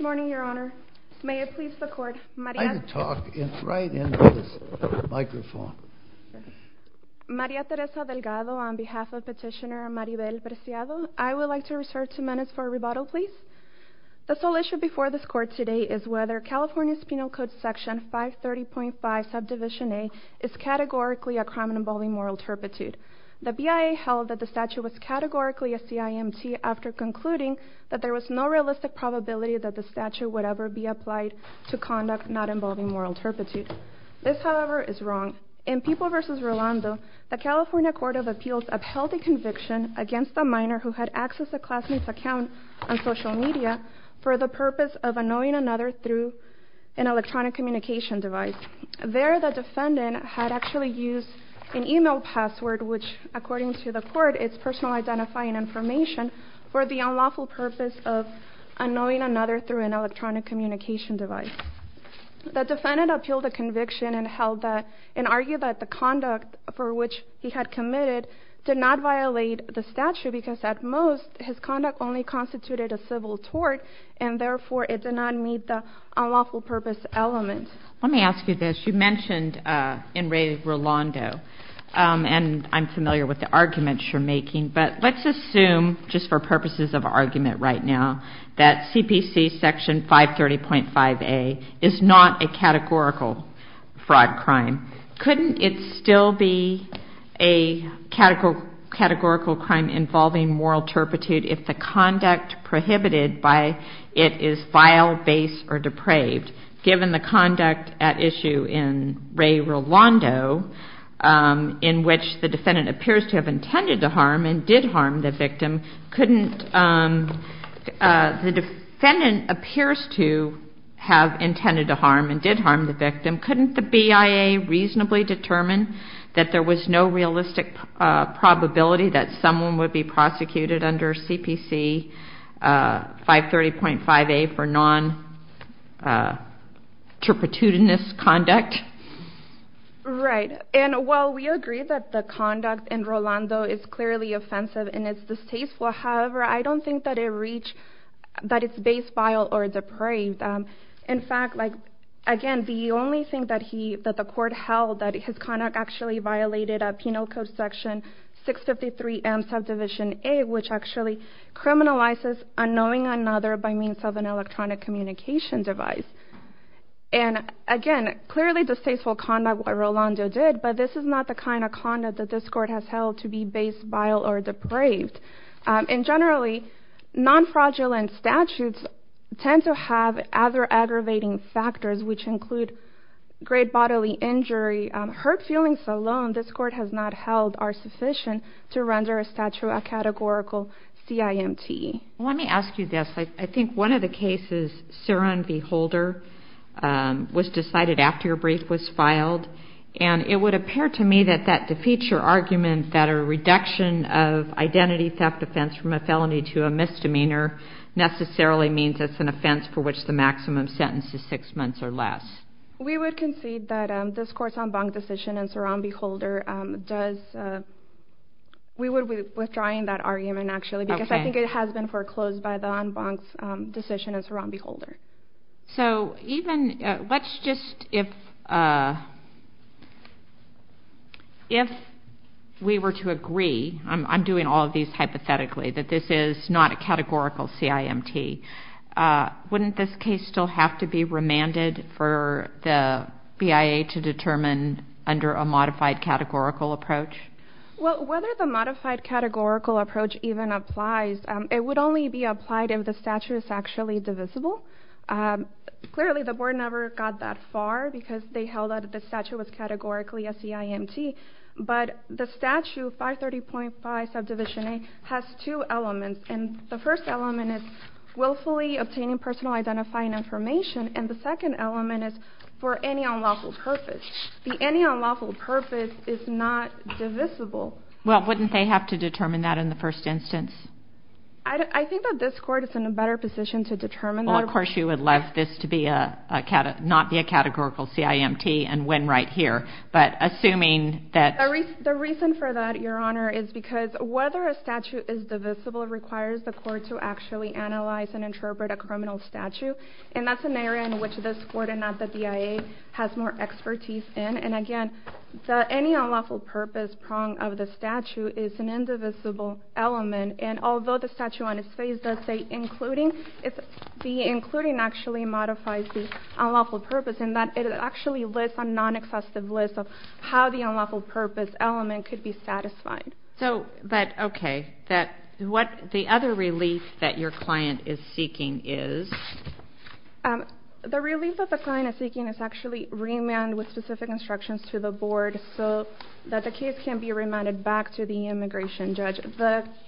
Maria Teresa Delgado on behalf of Petitioner Maribel Preciado, I would like to reserve two minutes for a rebuttal please. The sole issue before this court today is whether California's Penal Code Section 530.5 Subdivision A is categorically a crime involving moral turpitude. The BIA held that the statute was categorically a CIMT after concluding that there was no realistic probability that the statute would ever be applied to conduct not involving moral turpitude. This, however, is wrong. In People v. Rolando, the California Court of Appeals upheld a conviction against a minor who had accessed a classmate's account on social media for the purpose of annoying another through an electronic communication device. There, the defendant had actually used an email password which, according to the court, is personal identifying information for the unlawful purpose of annoying another through an electronic communication device. The defendant appealed the conviction and argued that the conduct for which he had committed did not violate the statute because at most his conduct only constituted a civil tort and therefore it did not meet the unlawful purpose element. Let me ask you this. You mentioned in v. Rolando, and I'm familiar with the arguments you're making, but let's assume, just for purposes of argument right now, that CPC Section 530.5A is not a categorical fraud crime. Couldn't it still be a categorical crime involving moral turpitude if the conduct prohibited by it is vile, base, or depraved, given the conduct at issue in v. Rolando in which the defendant appears to have intended to harm and did harm the victim? Couldn't the BIA reasonably determine that there was no realistic probability that someone would be prosecuted under CPC 530.5A for non-turpitudinous conduct? Right. And while we agree that the conduct in Rolando is clearly offensive and it's distasteful, however, I don't think that it's base, vile, or depraved. In fact, again, the only thing that the court held that his conduct actually violated Penal Code Section 653M, Subdivision A, which actually criminalizes unknowing another by means of an electronic communication device. And, again, clearly distasteful conduct what Rolando did, but this is not the kind of conduct that this court has held to be base, vile, or depraved. And, generally, non-fraudulent statutes tend to have other aggravating factors, which include great bodily injury. Hurt feelings alone this court has not held are sufficient to render a statute a categorical CIMT. Let me ask you this. I think one of the cases, Saran v. Holder, was decided after your brief was filed. And it would appear to me that that defeats your argument that a reduction of identity theft offense from a felony to a misdemeanor necessarily means it's an offense for which the maximum sentence is six months or less. We would concede that this court's en banc decision in Saran v. Holder does... We would be withdrawing that argument, actually, because I think it has been foreclosed by the en banc decision in Saran v. Holder. So, even... Let's just... If we were to agree, I'm doing all of these hypothetically, that this is not a categorical CIMT, wouldn't this case still have to be remanded for the BIA to determine under a modified categorical approach? Well, whether the modified categorical approach even applies, it would only be applied if the statute is actually divisible. Clearly, the board never got that far because they held that the statute was categorically a CIMT. But the statute, 530.5 subdivision A, has two elements. And the first element is willfully obtaining personal identifying information. And the second element is for any unlawful purpose. The any unlawful purpose is not divisible. Well, wouldn't they have to determine that in the first instance? I think that this court is in a better position to determine that. Well, of course, you would like this to not be a categorical CIMT and win right here. But assuming that... The reason for that, Your Honor, is because whether a statute is divisible requires the court to actually analyze and interpret a criminal statute. And that's an area in which this court and not the BIA has more expertise in. And, again, any unlawful purpose prong of the statute is an indivisible element. And although the statute on its face does say including, the including actually modifies the unlawful purpose in that it actually lists a non-excessive list of how the unlawful purpose element could be satisfied. So, but, okay, that what the other relief that your client is seeking is? The relief that the client is seeking is actually remand with specific instructions to the board so that the case can be remanded back to the immigration judge.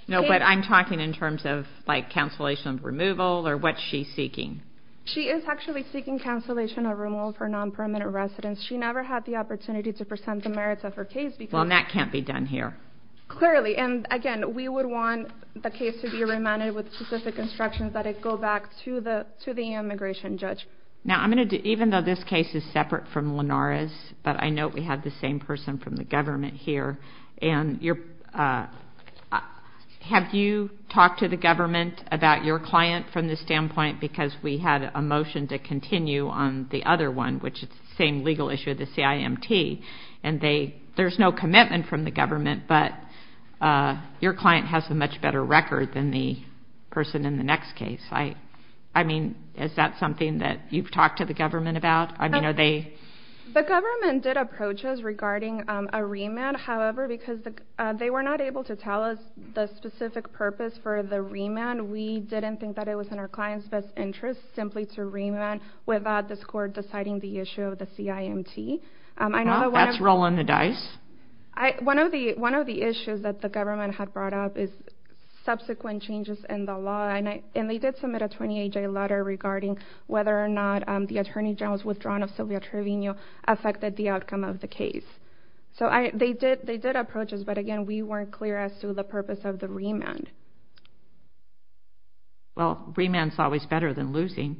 No, but I'm talking in terms of, like, cancellation of removal or what's she seeking? She is actually seeking cancellation of removal for non-permanent residence. She never had the opportunity to present the merits of her case because... And that can't be done here. Clearly, and, again, we would want the case to be remanded with specific instructions that it go back to the immigration judge. Now, I'm going to, even though this case is separate from Lenara's, but I know we have the same person from the government here, and have you talked to the government about your client from the standpoint because we had a motion to continue on the other one, which is the same legal issue, the CIMT, and there's no commitment from the government, but your client has a much better record than the person in the next case. I mean, is that something that you've talked to the government about? The government did approach us regarding a remand, however, because they were not able to tell us the specific purpose for the remand. We didn't think that it was in our client's best interest simply to remand without this court deciding the issue of the CIMT. Well, that's rolling the dice. One of the issues that the government had brought up is subsequent changes in the law, and they did submit a 28-day letter regarding whether or not the attorney general's withdrawal of Sylvia Trevino affected the outcome of the case. So they did approach us, but, again, we weren't clear as to the purpose of the remand. Well, remand's always better than losing.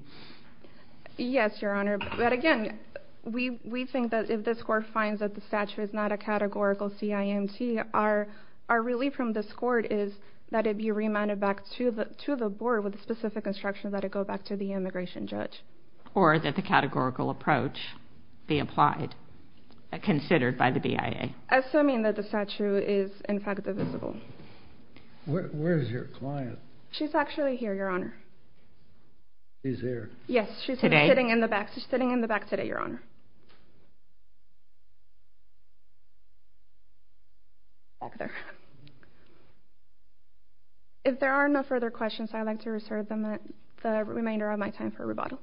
Yes, Your Honor. But, again, we think that if this court finds that the statute is not a categorical CIMT, our relief from this court is that it be remanded back to the board with the specific instructions that it go back to the immigration judge. Or that the categorical approach be applied, considered by the BIA. Assuming that the statute is, in fact, divisible. Where is your client? She's actually here, Your Honor. She's here? Yes, she's sitting in the back. Today? She's sitting in the back today, Your Honor. Back there. If there are no further questions, I'd like to reserve the remainder of my time for rebuttal.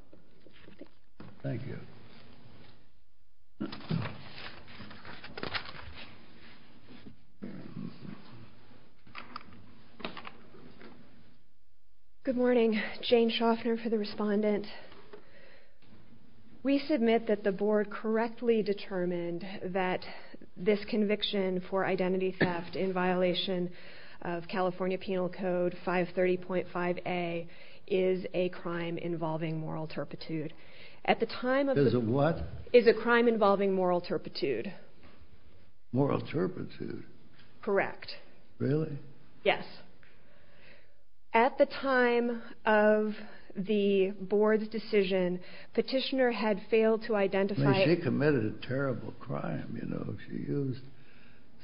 Thank you. Thank you. Good morning. Jane Shoffner for the respondent. We submit that the board correctly determined that this conviction for identity theft in violation of California Penal Code 530.5a is a crime involving moral turpitude. Is it what? Is a crime involving moral turpitude. Moral turpitude? Correct. Really? Yes. At the time of the board's decision, petitioner had failed to identify... She committed a terrible crime, you know. She used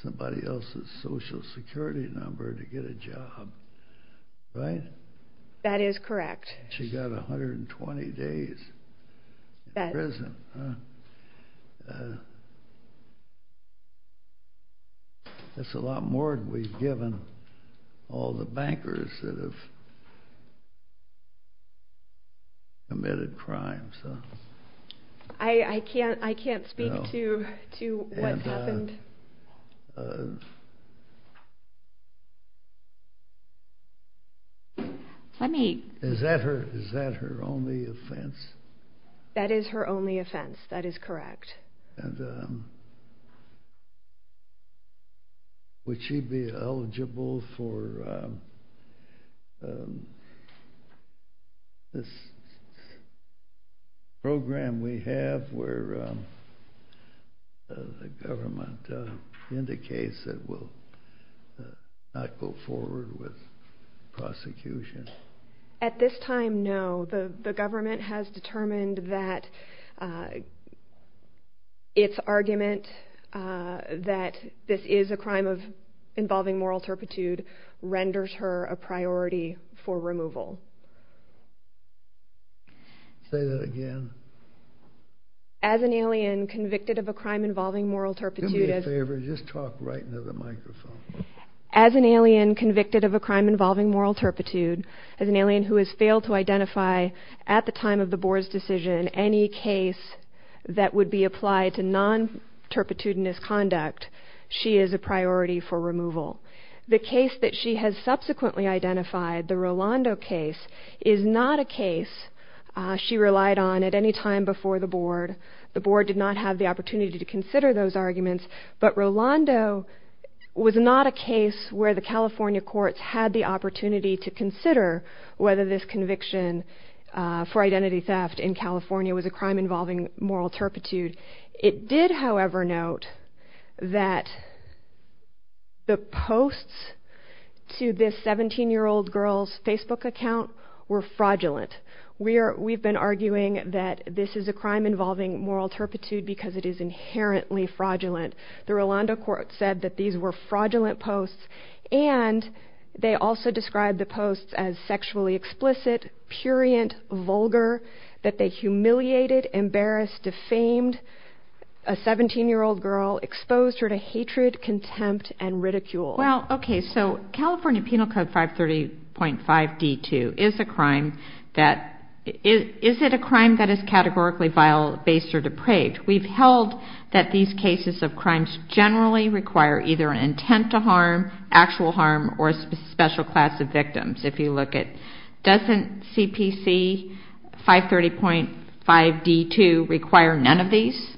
somebody else's social security number to get a job. Right? That is correct. She got 120 days in prison. That's a lot more than we've given all the bankers that have committed crimes. I can't speak to what's happened. Let me... Is that her only offense? That is her only offense. That is correct. Would she be eligible for this program we have where the government indicates it will not go forward with prosecution? At this time, no. The government has determined that its argument that this is a crime involving moral turpitude renders her a priority for removal. Say that again. As an alien convicted of a crime involving moral turpitude... Do me a favor and just talk right into the microphone. As an alien convicted of a crime involving moral turpitude, as an alien who has failed to identify at the time of the board's decision any case that would be applied to non-turpitudinous conduct, she is a priority for removal. The case that she has subsequently identified, the Rolando case, is not a case she relied on at any time before the board. The board did not have the opportunity to consider those arguments, but Rolando was not a case where the California courts had the opportunity to consider whether this conviction for identity theft in California was a crime involving moral turpitude. It did, however, note that the posts to this 17-year-old girl's Facebook account were fraudulent. We've been arguing that this is a crime involving moral turpitude because it is inherently fraudulent. The Rolando court said that these were fraudulent posts, and they also described the posts as sexually explicit, purient, vulgar, that they humiliated, embarrassed, defamed a 17-year-old girl, exposed her to hatred, contempt, and ridicule. Well, okay, so California Penal Code 530.5D2 is a crime that is categorically vile, based, or depraved. We've held that these cases of crimes generally require either an intent to harm, actual harm, or a special class of victims. Doesn't CPC 530.5D2 require none of these?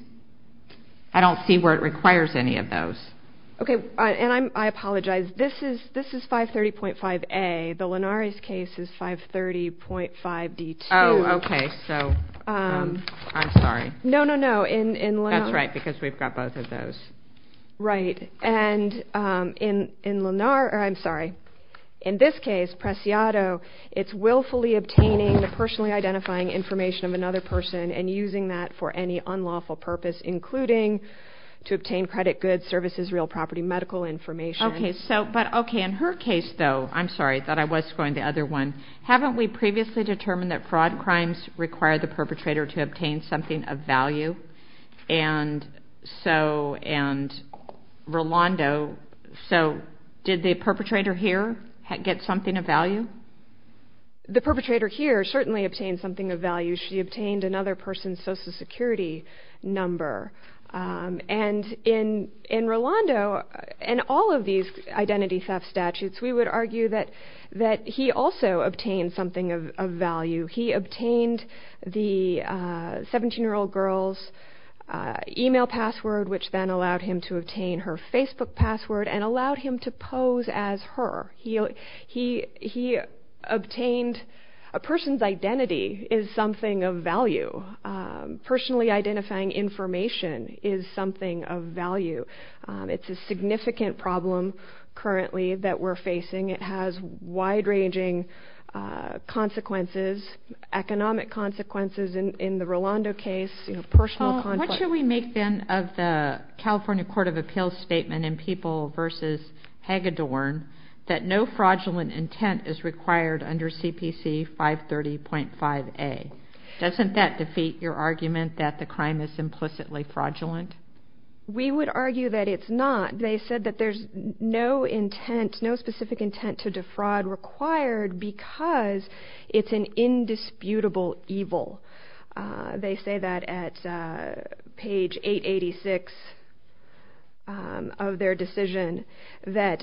I don't see where it requires any of those. Okay, and I apologize. This is 530.5A. The Linares case is 530.5D2. Oh, okay, so I'm sorry. No, no, no. That's right, because we've got both of those. Right. And in this case, Preciado, it's willfully obtaining the personally identifying information of another person and using that for any unlawful purpose, including to obtain credit goods, services, real property, medical information. Okay, but in her case, though, I'm sorry. I thought I was scoring the other one. Haven't we previously determined that fraud crimes require the perpetrator to obtain something of value? And Rolando, so did the perpetrator here get something of value? The perpetrator here certainly obtained something of value. She obtained another person's Social Security number. And in Rolando, in all of these identity theft statutes, we would argue that he also obtained something of value. He obtained the 17-year-old girl's e-mail password, which then allowed him to obtain her Facebook password and allowed him to pose as her. He obtained a person's identity is something of value. Personally identifying information is something of value. It's a significant problem currently that we're facing. It has wide-ranging consequences, economic consequences. In the Rolando case, personal conflict. What should we make, then, of the California Court of Appeals statement in People v. Hagedorn that no fraudulent intent is required under CPC 530.5a? Doesn't that defeat your argument that the crime is implicitly fraudulent? We would argue that it's not. They said that there's no intent, no specific intent to defraud required because it's an indisputable evil. They say that at page 886 of their decision, that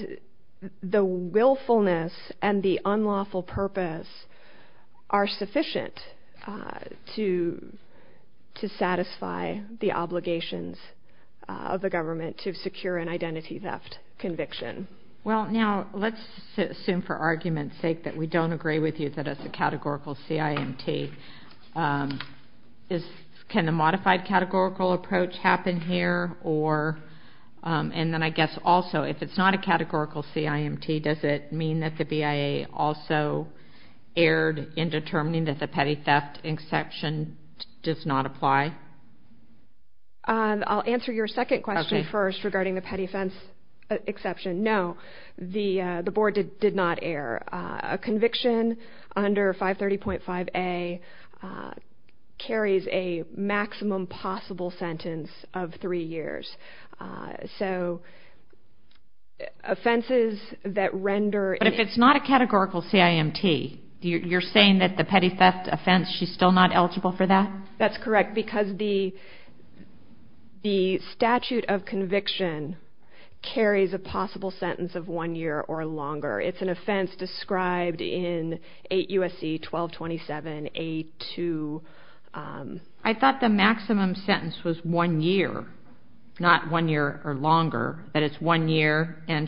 the willfulness and the unlawful purpose are sufficient to satisfy the obligations of the government to secure an identity theft conviction. Well, now, let's assume for argument's sake that we don't agree with you that it's a categorical CIMT. Can the modified categorical approach happen here? And then I guess also, if it's not a categorical CIMT, does it mean that the BIA also erred in determining that the petty theft exception does not apply? I'll answer your second question first regarding the petty offense exception. No, the board did not err. A conviction under 530.5a carries a maximum possible sentence of three years. So, offenses that render... But if it's not a categorical CIMT, you're saying that the petty theft offense, she's still not eligible for that? That's correct because the statute of conviction carries a possible sentence of one year or longer. It's an offense described in 8 U.S.C. 1227a2... I thought the maximum sentence was one year, not one year or longer. That it's one year and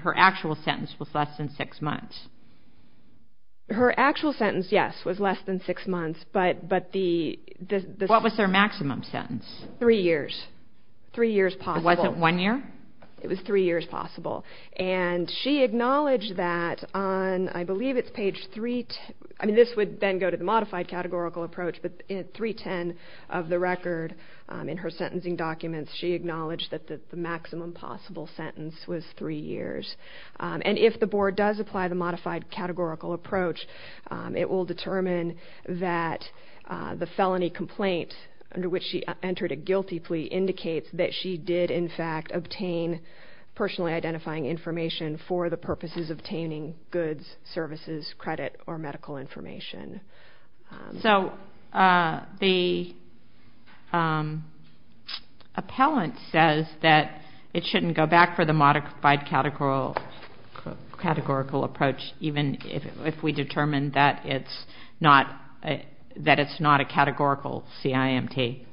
her actual sentence was less than six months. Her actual sentence, yes, was less than six months, but the... What was her maximum sentence? Three years. Three years possible. It wasn't one year? It was three years possible. And she acknowledged that on, I believe it's page 3... I mean, this would then go to the modified categorical approach, but in 310 of the record in her sentencing documents, she acknowledged that the maximum possible sentence was three years. And if the board does apply the modified categorical approach, it will determine that the felony complaint under which she entered a guilty plea indicates that she did, in fact, obtain personally identifying information for the purposes of obtaining goods, services, credit, or medical information. So the appellant says that it shouldn't go back for the modified categorical approach, even if we determine that it's not a categorical CIMT.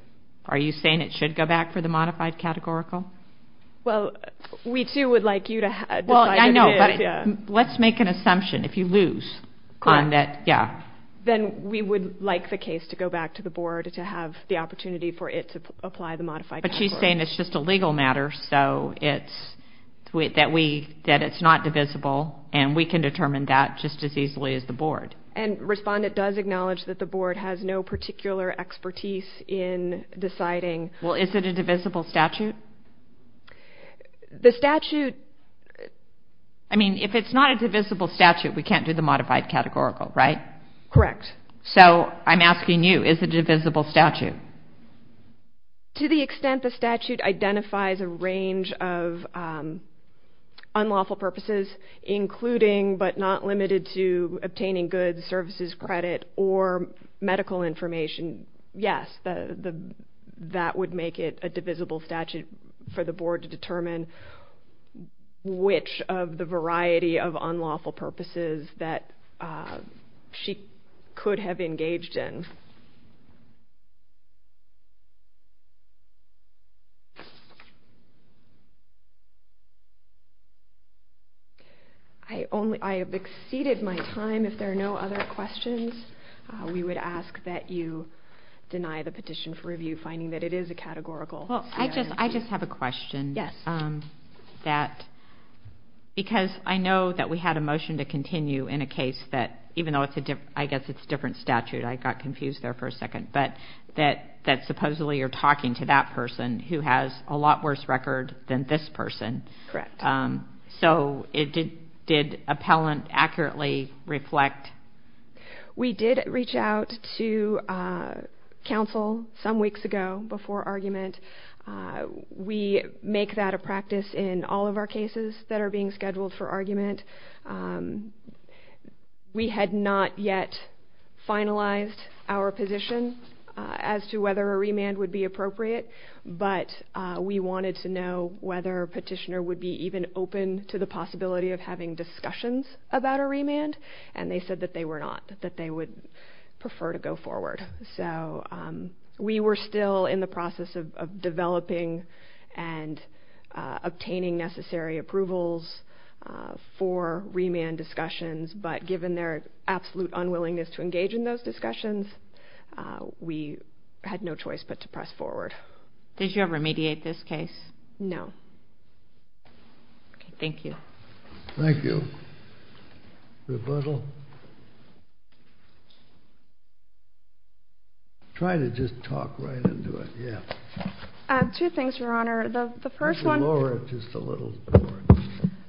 Are you saying it should go back for the modified categorical? Well, we, too, would like you to decide if it is. Well, I know, but let's make an assumption. If you lose on that... Then we would like the case to go back to the board to have the opportunity for it to apply the modified categorical. But she's saying it's just a legal matter, so that it's not divisible, and we can determine that just as easily as the board. And Respondent does acknowledge that the board has no particular expertise in deciding... Well, is it a divisible statute? The statute... I mean, if it's not a divisible statute, we can't do the modified categorical, right? Correct. So I'm asking you, is it a divisible statute? To the extent the statute identifies a range of unlawful purposes, including but not limited to obtaining goods, services, credit, or medical information, yes, that would make it a divisible statute for the board to determine which of the variety of unlawful purposes that she could have engaged in. I have exceeded my time. If there are no other questions, we would ask that you deny the petition for review, finding that it is a categorical. Well, I just have a question. Yes. Because I know that we had a motion to continue in a case that, even though I guess it's a different statute, I got confused there for a second, but that supposedly you're talking to that person who has a lot worse record than this person. Correct. So did appellant accurately reflect... We did reach out to counsel some weeks ago before argument. We make that a practice in all of our cases that are being scheduled for argument. We had not yet finalized our position as to whether a remand would be appropriate, but we wanted to know whether petitioner would be even open to the possibility of having discussions about a remand, and they said that they were not, that they would prefer to go forward. So we were still in the process of developing and obtaining necessary approvals for remand discussions, but given their absolute unwillingness to engage in those discussions, we had no choice but to press forward. Did you ever mediate this case? No. Okay, thank you. Thank you. Rebuttal? Try to just talk right into it, yeah. Two things, Your Honor. The first one... Lower it just a little.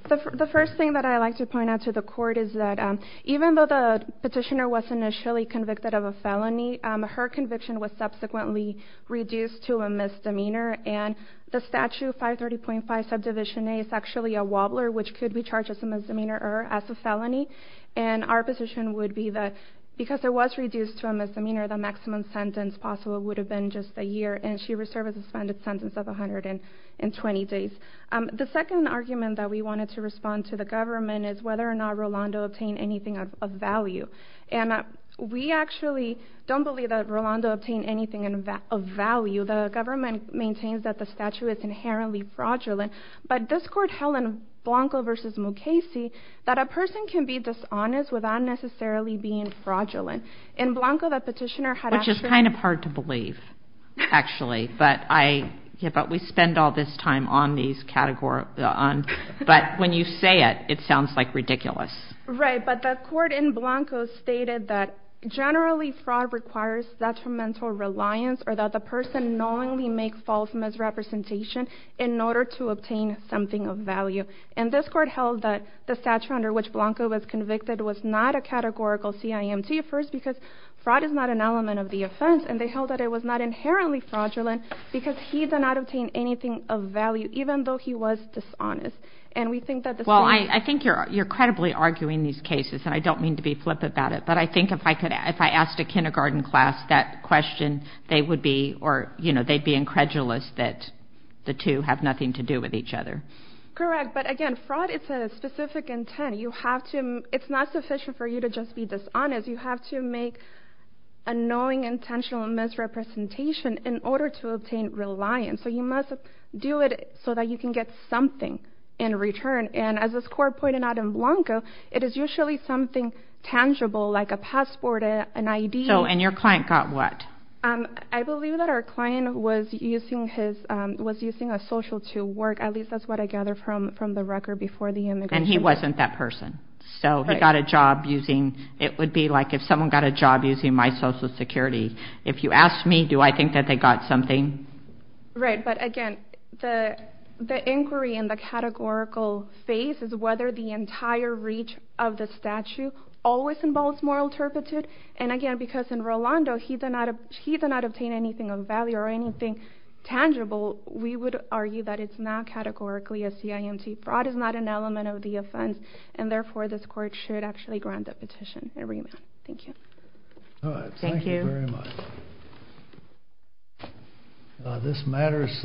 The first thing that I'd like to point out to the court is that even though the petitioner was initially convicted of a felony, her conviction was subsequently reduced to a misdemeanor, and the Statute 530.5 Subdivision A is actually a wobbler, which could be charged as a misdemeanor or as a felony, and our position would be that because it was reduced to a misdemeanor, the maximum sentence possible would have been just a year, and she was served with a suspended sentence of 120 days. The second argument that we wanted to respond to the government is whether or not Rolando obtained anything of value, and we actually don't believe that Rolando obtained anything of value. The government maintains that the statute is inherently fraudulent, but this court held in Blanco v. Mukasey that a person can be dishonest without necessarily being fraudulent. In Blanco, the petitioner had actually... Which is kind of hard to believe, actually, but we spend all this time on these categories, but when you say it, it sounds like ridiculous. Right, but the court in Blanco stated that generally fraud requires detrimental reliance or that the person knowingly makes false misrepresentation in order to obtain something of value, and this court held that the statute under which Blanco was convicted was not a categorical CIMT first because fraud is not an element of the offense, and they held that it was not inherently fraudulent because he did not obtain anything of value, even though he was dishonest. Well, I think you're credibly arguing these cases, and I don't mean to be flippant about it, but I think if I asked a kindergarten class that question, they would be incredulous that the two have nothing to do with each other. Correct, but again, fraud is a specific intent. It's not sufficient for you to just be dishonest. You have to make a knowing intentional misrepresentation in order to obtain reliance, so you must do it so that you can get something in return, and as this court pointed out in Blanco, it is usually something tangible like a passport, an ID. And your client got what? I believe that our client was using a social to work. At least that's what I gather from the record before the immigration court. And he wasn't that person, so he got a job using, it would be like if someone got a job using my social security. If you ask me, do I think that they got something? Right, but again, the inquiry in the categorical phase is whether the entire reach of the statute always involves moral turpitude, and again, because in Rolando, he did not obtain anything of value or anything tangible, we would argue that it's not categorically a CIMT. Fraud is not an element of the offense, and therefore this court should actually grant that petition a remand. Thank you. Thank you very much. This matter is submitted.